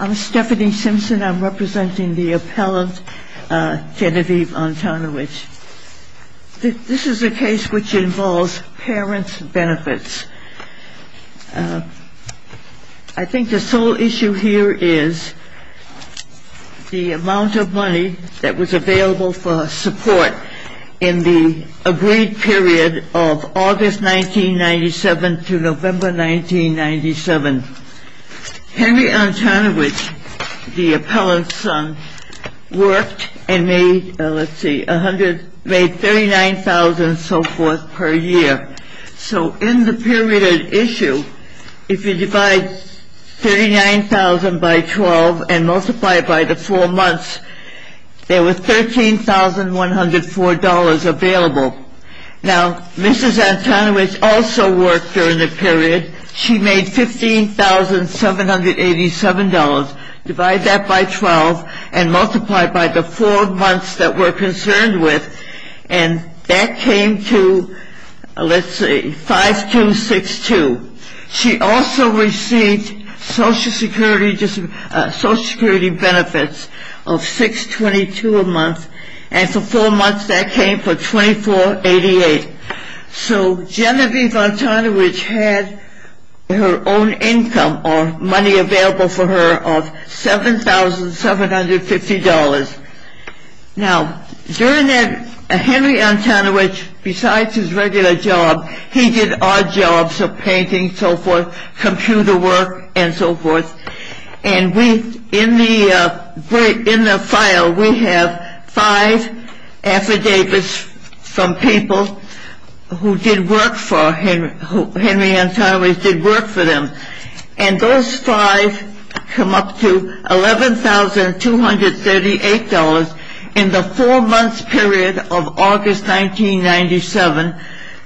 I'm Stephanie Simpson. I'm representing the appellant Genevieve Antoniewicz. This is a case which involves parents' benefits. I think the sole issue here is the amount of money that was available for support in the agreed period of August 1997 to November 1997. Henry Antoniewicz, the appellant's son, worked and made, let's see, made $39,000 and so forth per year. So in the period at issue, if you divide $39,000 by 12 and multiply it by the 4 months, there was $13,104 available. Now, Mrs. Antoniewicz also worked during the period. She made $15,787. Divide that by 12 and multiply it by the 4 months that we're concerned with, and that came to, let's see, 5262. She also received Social Security benefits of 622 a month, and for 4 months that came to 2488. So Genevieve Antoniewicz had her own income or money available for her of $7,750. Now, during that, Henry Antoniewicz, besides his regular job, he did odd jobs of painting, so forth, computer work, and so forth. And we, in the file, we have 5 affidavits from people who did work for Henry Antoniewicz, did work for them. And those 5 come up to $11,238 in the 4-month period of August 1997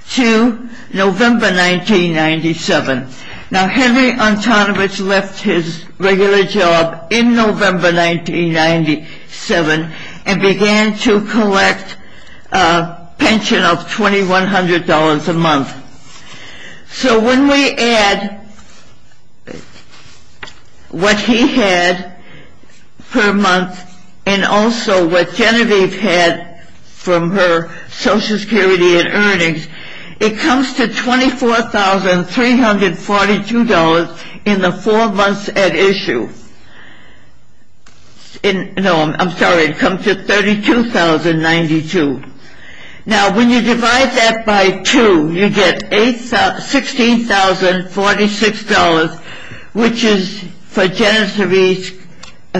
to November 1997. Now, Henry Antoniewicz left his regular job in November 1997 and began to collect a pension of $2,100 a month. So when we add what he had per month and also what Genevieve had from her Social Security and earnings, it comes to $24,342 in the 4 months at issue. No, I'm sorry, it comes to $32,092. Now, when you divide that by 2, you get $16,046, which is for Genevieve's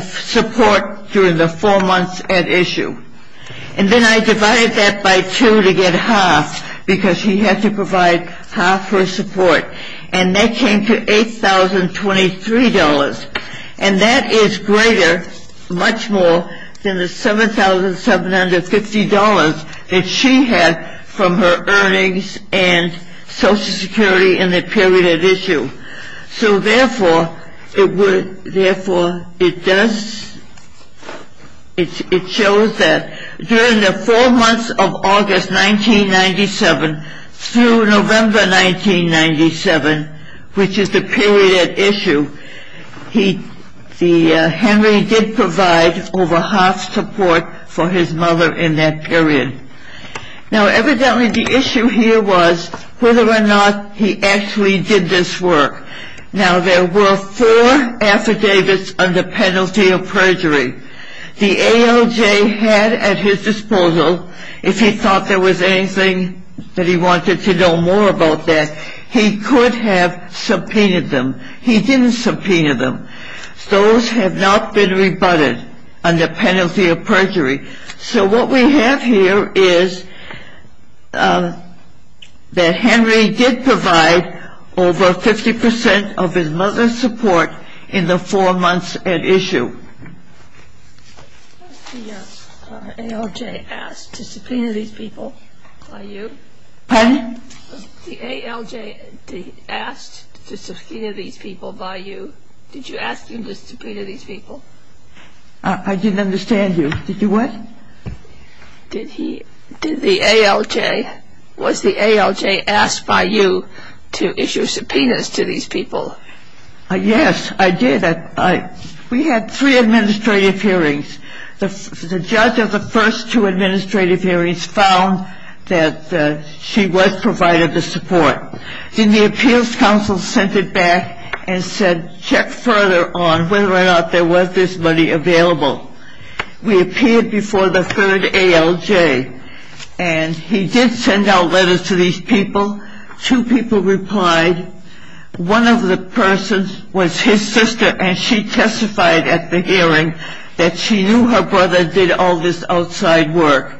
support during the 4 months at issue. And then I divided that by 2 to get half, because she had to provide half her support. And that came to $8,023. And that is greater, much more, than the $7,750 that she had from her earnings and Social Security in the period at issue. So therefore, it shows that during the 4 months of August 1997 through November 1997, which is the period at issue, Henry did provide over half support for his mother in that period. Now, evidently, the issue here was whether or not he actually did this work. Now, there were 4 affidavits under penalty of perjury. The ALJ had at his disposal, if he thought there was anything that he wanted to know more about that, he could have subpoenaed them. He didn't subpoena them. So what we have here is that Henry did provide over 50% of his mother's support in the 4 months at issue. Pardon? The ALJ asked to subpoena these people by you. Did you ask him to subpoena these people? I didn't understand you. Did you what? Did he, did the ALJ, was the ALJ asked by you to issue subpoenas to these people? Yes, I did. We had 3 administrative hearings. The judge of the first 2 administrative hearings found that she was provided the support. Then the appeals council sent it back and said check further on whether or not there was this money available. We appeared before the 3rd ALJ, and he did send out letters to these people. Two people replied, one of the persons was his sister, and she testified at the hearing that she knew her brother did all this outside work.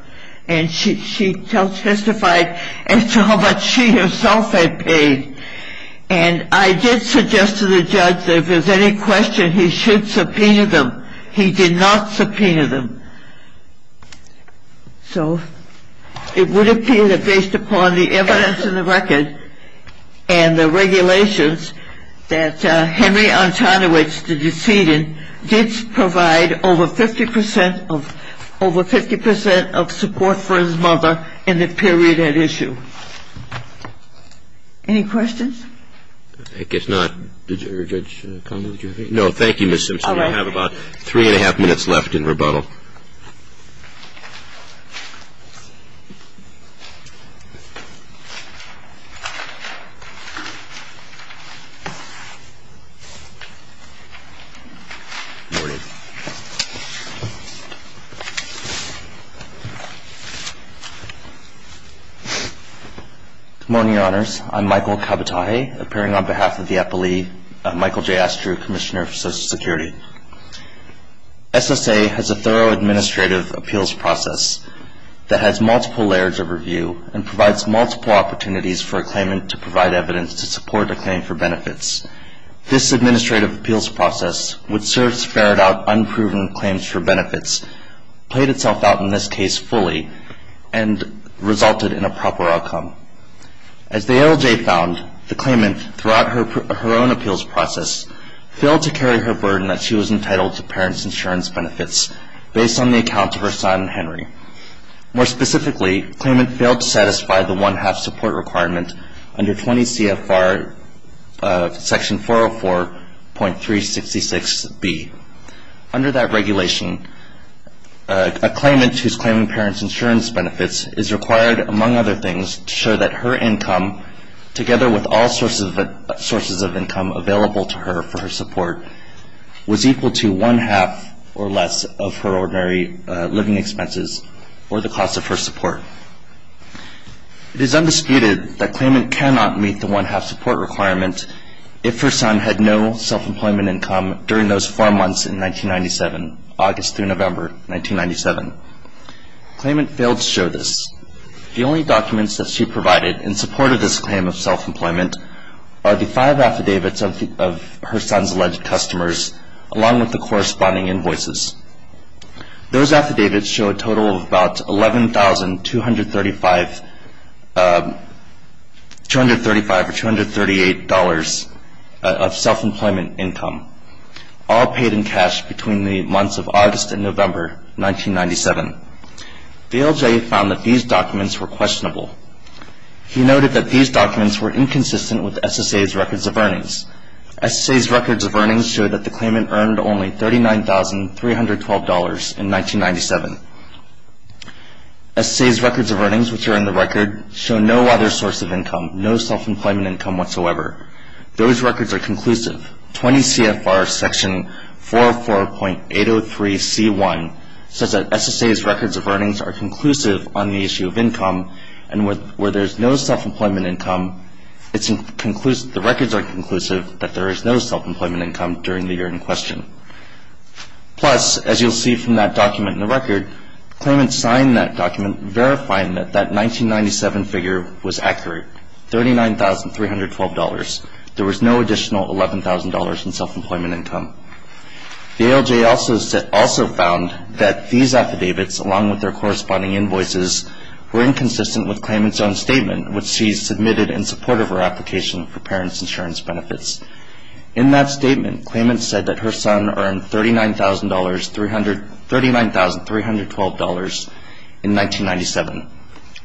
And she testified as to how much she herself had paid. And I did suggest to the judge that if there's any question, he should subpoena them. He did not subpoena them. So it would appear that based upon the evidence in the record and the regulations that Henry Antoniewicz, the decedent, did provide over 50% of, over 50% of support for his mother in the period at issue. Any questions? I guess not. Judge Connell, did you have anything? No, thank you, Ms. Simpson. We have about three and a half minutes left in rebuttal. Good morning, Your Honors. I'm Michael Kabatage, appearing on behalf of the APOLE, Michael J. Astrew, Commissioner for Social Security. SSA has a thorough administrative appeals process that has multiple layers of review and provides multiple opportunities for a claimant to provide evidence to support a claim for benefits. This administrative appeals process, which serves to ferret out unproven claims for benefits, played itself out in this case fully and resulted in a proper outcome. As the ALJ found, the claimant, throughout her own appeals process, failed to carry her burden that she was entitled to parents' insurance benefits, based on the account of her son, Henry. More specifically, the claimant failed to satisfy the one-half support requirement under 20 CFR section 404.366B. Under that regulation, a claimant who is claiming parents' insurance benefits is required, among other things, to show that her income, together with all sources of income available to her for her support, was equal to one-half or less of her ordinary living expenses or the cost of her support. It is undisputed that a claimant cannot meet the one-half support requirement if her son had no self-employment income during those four months in 1997, August through November 1997. The claimant failed to show this. The only documents that she provided in support of this claim of self-employment are the five affidavits of her son's alleged customers, along with the corresponding invoices. Those affidavits show a total of about $11,235 or $238 of self-employment income, all paid in cash between the months of August and November 1997. The LJ found that these documents were questionable. He noted that these documents were inconsistent with SSA's records of earnings. SSA's records of earnings show that the claimant earned only $39,312 in 1997. SSA's records of earnings, which are in the record, show no other source of income, no self-employment income whatsoever. Those records are conclusive. 20 CFR Section 404.803C1 says that SSA's records of earnings are conclusive on the issue of income, and where there's no self-employment income, the records are conclusive that there is no self-employment income during the year in question. Plus, as you'll see from that document in the record, the claimant signed that document verifying that that 1997 figure was accurate, $39,312. There was no additional $11,000 in self-employment income. The LJ also found that these affidavits, along with their corresponding invoices, were inconsistent with claimant's own statement, which she submitted in support of her application for parents' insurance benefits. In that statement, claimant said that her son earned $39,312 in 1997,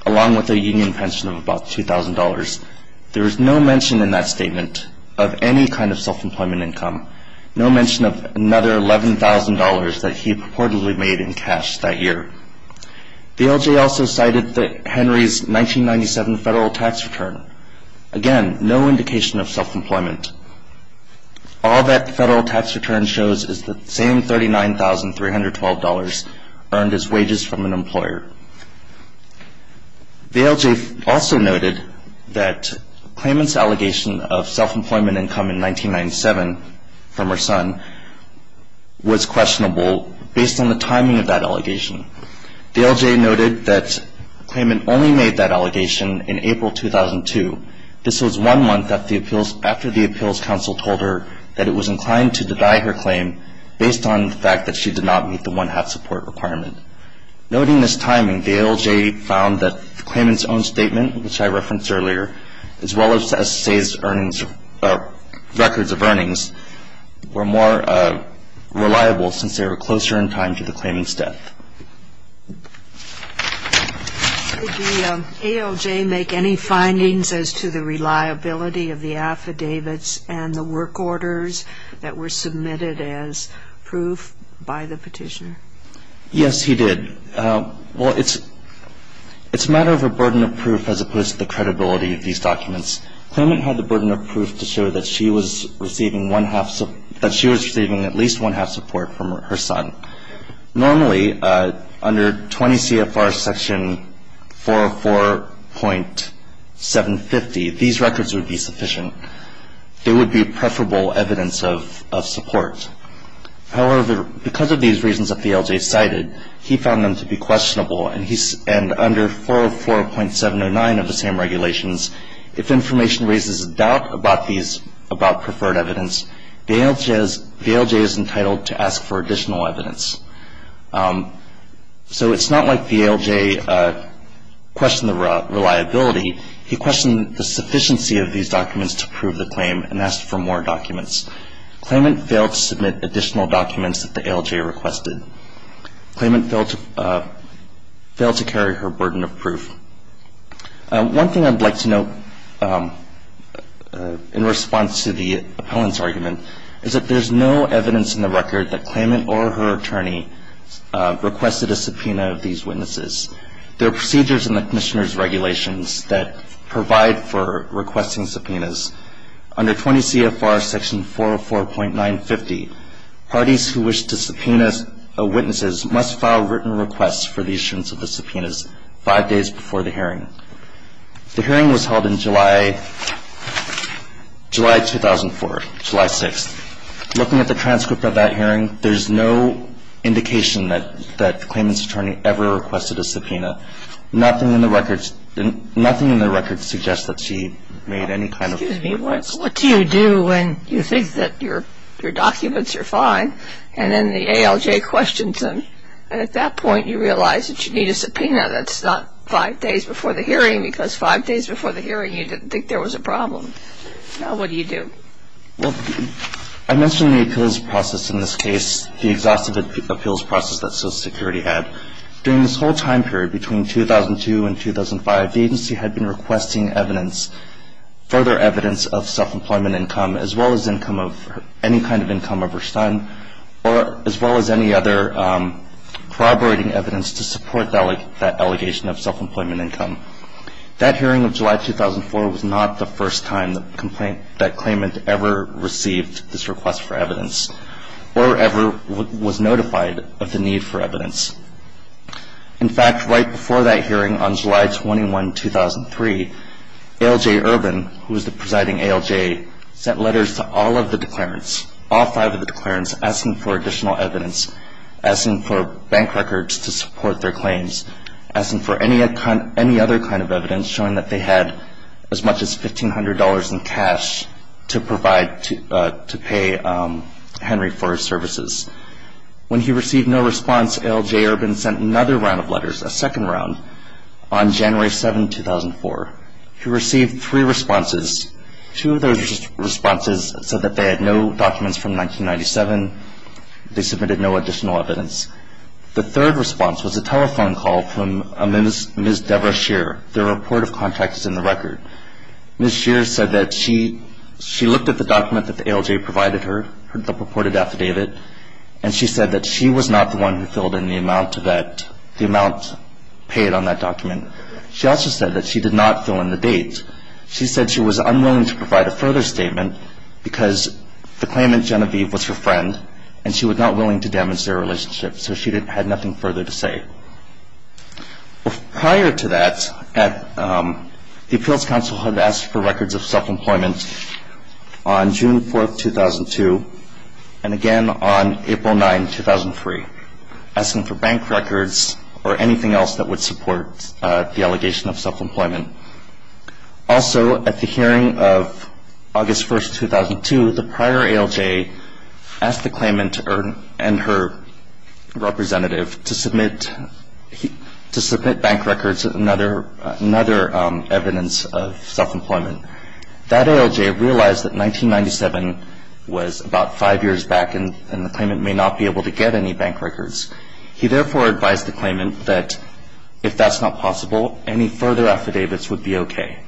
along with a union pension of about $2,000. There was no mention in that statement of any kind of self-employment income, no mention of another $11,000 that he purportedly made in cash that year. The LJ also cited Henry's 1997 federal tax return. Again, no indication of self-employment. All that federal tax return shows is the same $39,312 earned as wages from an employer. The LJ also noted that claimant's allegation of self-employment income in 1997 from her son was questionable based on the timing of that allegation. The LJ noted that claimant only made that allegation in April 2002. This was one month after the appeals counsel told her that it was inclined to deny her claim based on the fact that she did not meet the one-half support requirement. Noting this timing, the LJ found that the claimant's own statement, which I referenced earlier, as well as the SSA's records of earnings, were more reliable since they were closer in time to the claimant's death. Did the ALJ make any findings as to the reliability of the affidavits and the work orders that were submitted as proof by the petitioner? Yes, he did. Well, it's a matter of a burden of proof as opposed to the credibility of these documents. Claimant had the burden of proof to show that she was receiving one-half support that she was receiving at least one-half support from her son. Normally, under 20 CFR section 404.750, these records would be sufficient. They would be preferable evidence of support. However, because of these reasons that the ALJ cited, he found them to be questionable, and under 404.709 of the same regulations, if information raises a doubt about preferred evidence, the ALJ is entitled to ask for additional evidence. So it's not like the ALJ questioned the reliability. He questioned the sufficiency of these documents to prove the claim and asked for more documents. Claimant failed to submit additional documents that the ALJ requested. Claimant failed to carry her burden of proof. One thing I'd like to note in response to the appellant's argument is that there's no evidence in the record that claimant or her attorney requested a subpoena of these witnesses. There are procedures in the commissioner's regulations that provide for requesting subpoenas. Under 20 CFR section 404.950, parties who wish to subpoena witnesses must file written requests for the issuance of the subpoenas five days before the hearing. The hearing was held in July 2004, July 6th. Looking at the transcript of that hearing, there's no indication that the claimant's attorney ever requested a subpoena. Nothing in the records suggests that she made any kind of request. Excuse me. What do you do when you think that your documents are fine and then the ALJ questions them? And at that point you realize that you need a subpoena that's not five days before the hearing because five days before the hearing you didn't think there was a problem. Now what do you do? Well, I mentioned the appeals process in this case, the exhaustive appeals process that Social Security had. During this whole time period, between 2002 and 2005, the agency had been requesting evidence, further evidence of self-employment income as well as income of any kind of income of her son as well as any other corroborating evidence to support that allegation of self-employment income. That hearing of July 2004 was not the first time that claimant ever received this request for evidence or ever was notified of the need for evidence. In fact, right before that hearing on July 21, 2003, ALJ Urban, who was the presiding ALJ, sent letters to all of the declarants, all five of the declarants, asking for additional evidence, asking for bank records to support their claims, asking for any other kind of evidence showing that they had as much as $1,500 in cash to provide to pay Henry for his services. When he received no response, ALJ Urban sent another round of letters, a second round, on January 7, 2004. He received three responses. Two of those responses said that they had no documents from 1997. They submitted no additional evidence. The third response was a telephone call from Ms. Debra Shear, their report of contact is in the record. Ms. Shear said that she looked at the document that the ALJ provided her, the purported affidavit, and she said that she was not the one who filled in the amount paid on that document. She also said that she did not fill in the date. She said she was unwilling to provide a further statement because the claimant, Genevieve, was her friend, and she was not willing to damage their relationship, so she had nothing further to say. Prior to that, the Appeals Council had asked for records of self-employment on June 4, 2002, and again on April 9, 2003, asking for bank records or anything else that would support the allegation of self-employment. Also, at the hearing of August 1, 2002, the prior ALJ asked the claimant and her representative to submit bank records, another evidence of self-employment. That ALJ realized that 1997 was about five years back, and the claimant may not be able to get any bank records. He therefore advised the claimant that if that's not possible, any further affidavits would be okay.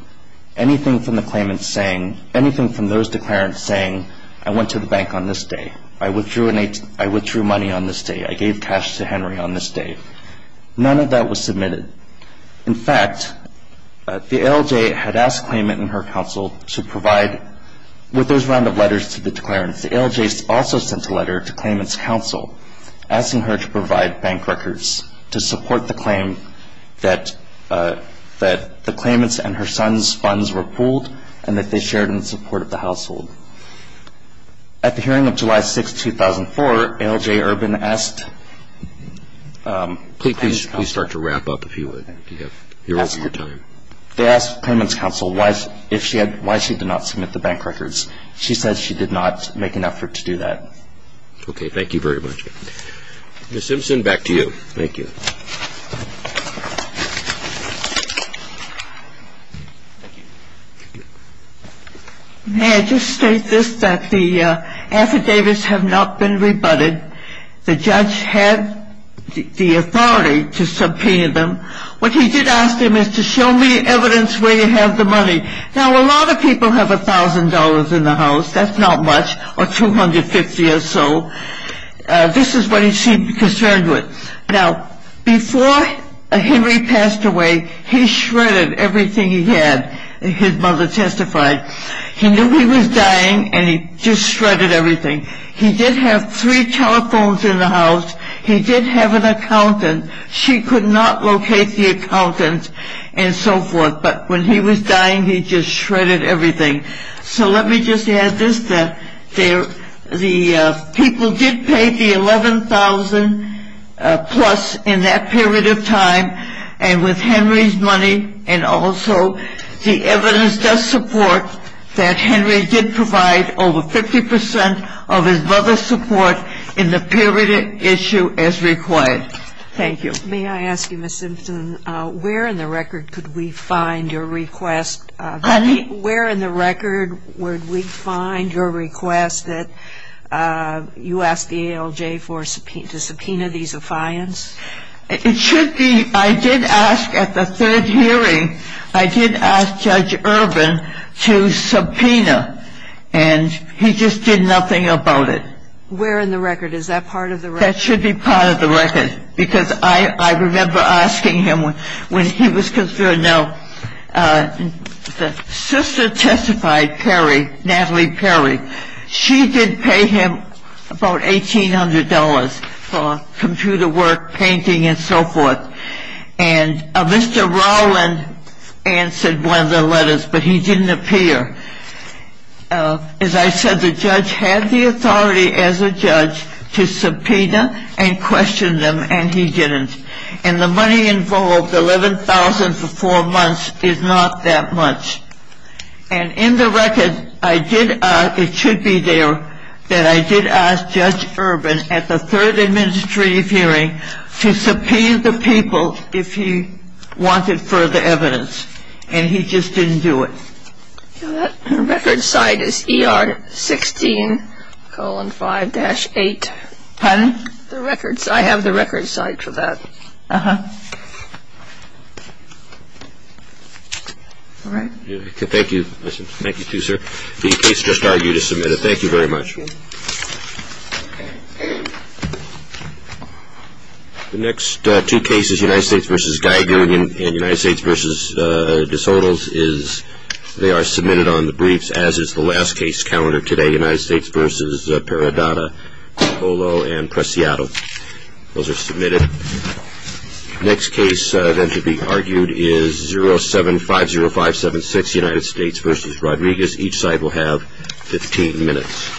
Anything from the claimant saying, anything from those declarants saying, I went to the bank on this day, I withdrew money on this day, I gave cash to Henry on this day, none of that was submitted. In fact, the ALJ had asked the claimant and her counsel to provide, with those round of letters to the declarants, the ALJ also sent a letter to the claimant's counsel asking her to provide bank records to support the claim that the claimant's and her son's funds were pooled and that they shared in support of the household. At the hearing of July 6, 2004, ALJ Urban asked the claimant's counsel. Please start to wrap up, if you would. You're over your time. They asked the claimant's counsel why she did not submit the bank records. She said she did not make an effort to do that. Okay. Thank you very much. Ms. Simpson, back to you. Thank you. May I just state this, that the affidavits have not been rebutted. The judge had the authority to subpoena them. What he did ask them is to show me evidence where you have the money. Now, a lot of people have $1,000 in the house. That's not much, or $250 or so. This is what he seemed concerned with. Now, before Henry passed away, he shredded everything he had. His mother testified. He knew he was dying, and he just shredded everything. He did have three telephones in the house. He did have an accountant. She could not locate the accountant and so forth. But when he was dying, he just shredded everything. So let me just add this, that the people did pay the $11,000-plus in that period of time. And with Henry's money and also the evidence does support that Henry did provide over 50 percent of his mother's support in the period of issue as required. Thank you. May I ask you, Ms. Simpson, where in the record could we find your request? Honey? Where in the record would we find your request that you ask the ALJ to subpoena these affiance? It should be, I did ask at the third hearing, I did ask Judge Urban to subpoena. And he just did nothing about it. Where in the record? Is that part of the record? That should be part of the record. I remember asking him when he was considered, no, the sister testified, Perry, Natalie Perry. She did pay him about $1,800 for computer work, painting, and so forth. And Mr. Rowland answered one of the letters, but he didn't appear. As I said, the judge had the authority as a judge to subpoena and question them, and he didn't. And the money involved, $11,000 for four months, is not that much. And in the record, I did ask, it should be there, that I did ask Judge Urban at the third administrative hearing to subpoena the people if he wanted further evidence. And he just didn't do it. The record site is ER 16, colon 5-8. Pardon? The record site. I have the record site for that. All right. Thank you. Thank you, too, sir. The case just argued is submitted. Thank you very much. Thank you. The next two cases, United States v. Guy, and United States v. DeSoto, they are submitted on the briefs as is the last case calendar today, United States v. Peridotta, Polo, and Preciado. Those are submitted. Next case then to be argued is 0750576, United States v. Rodriguez. Each side will have 15 minutes.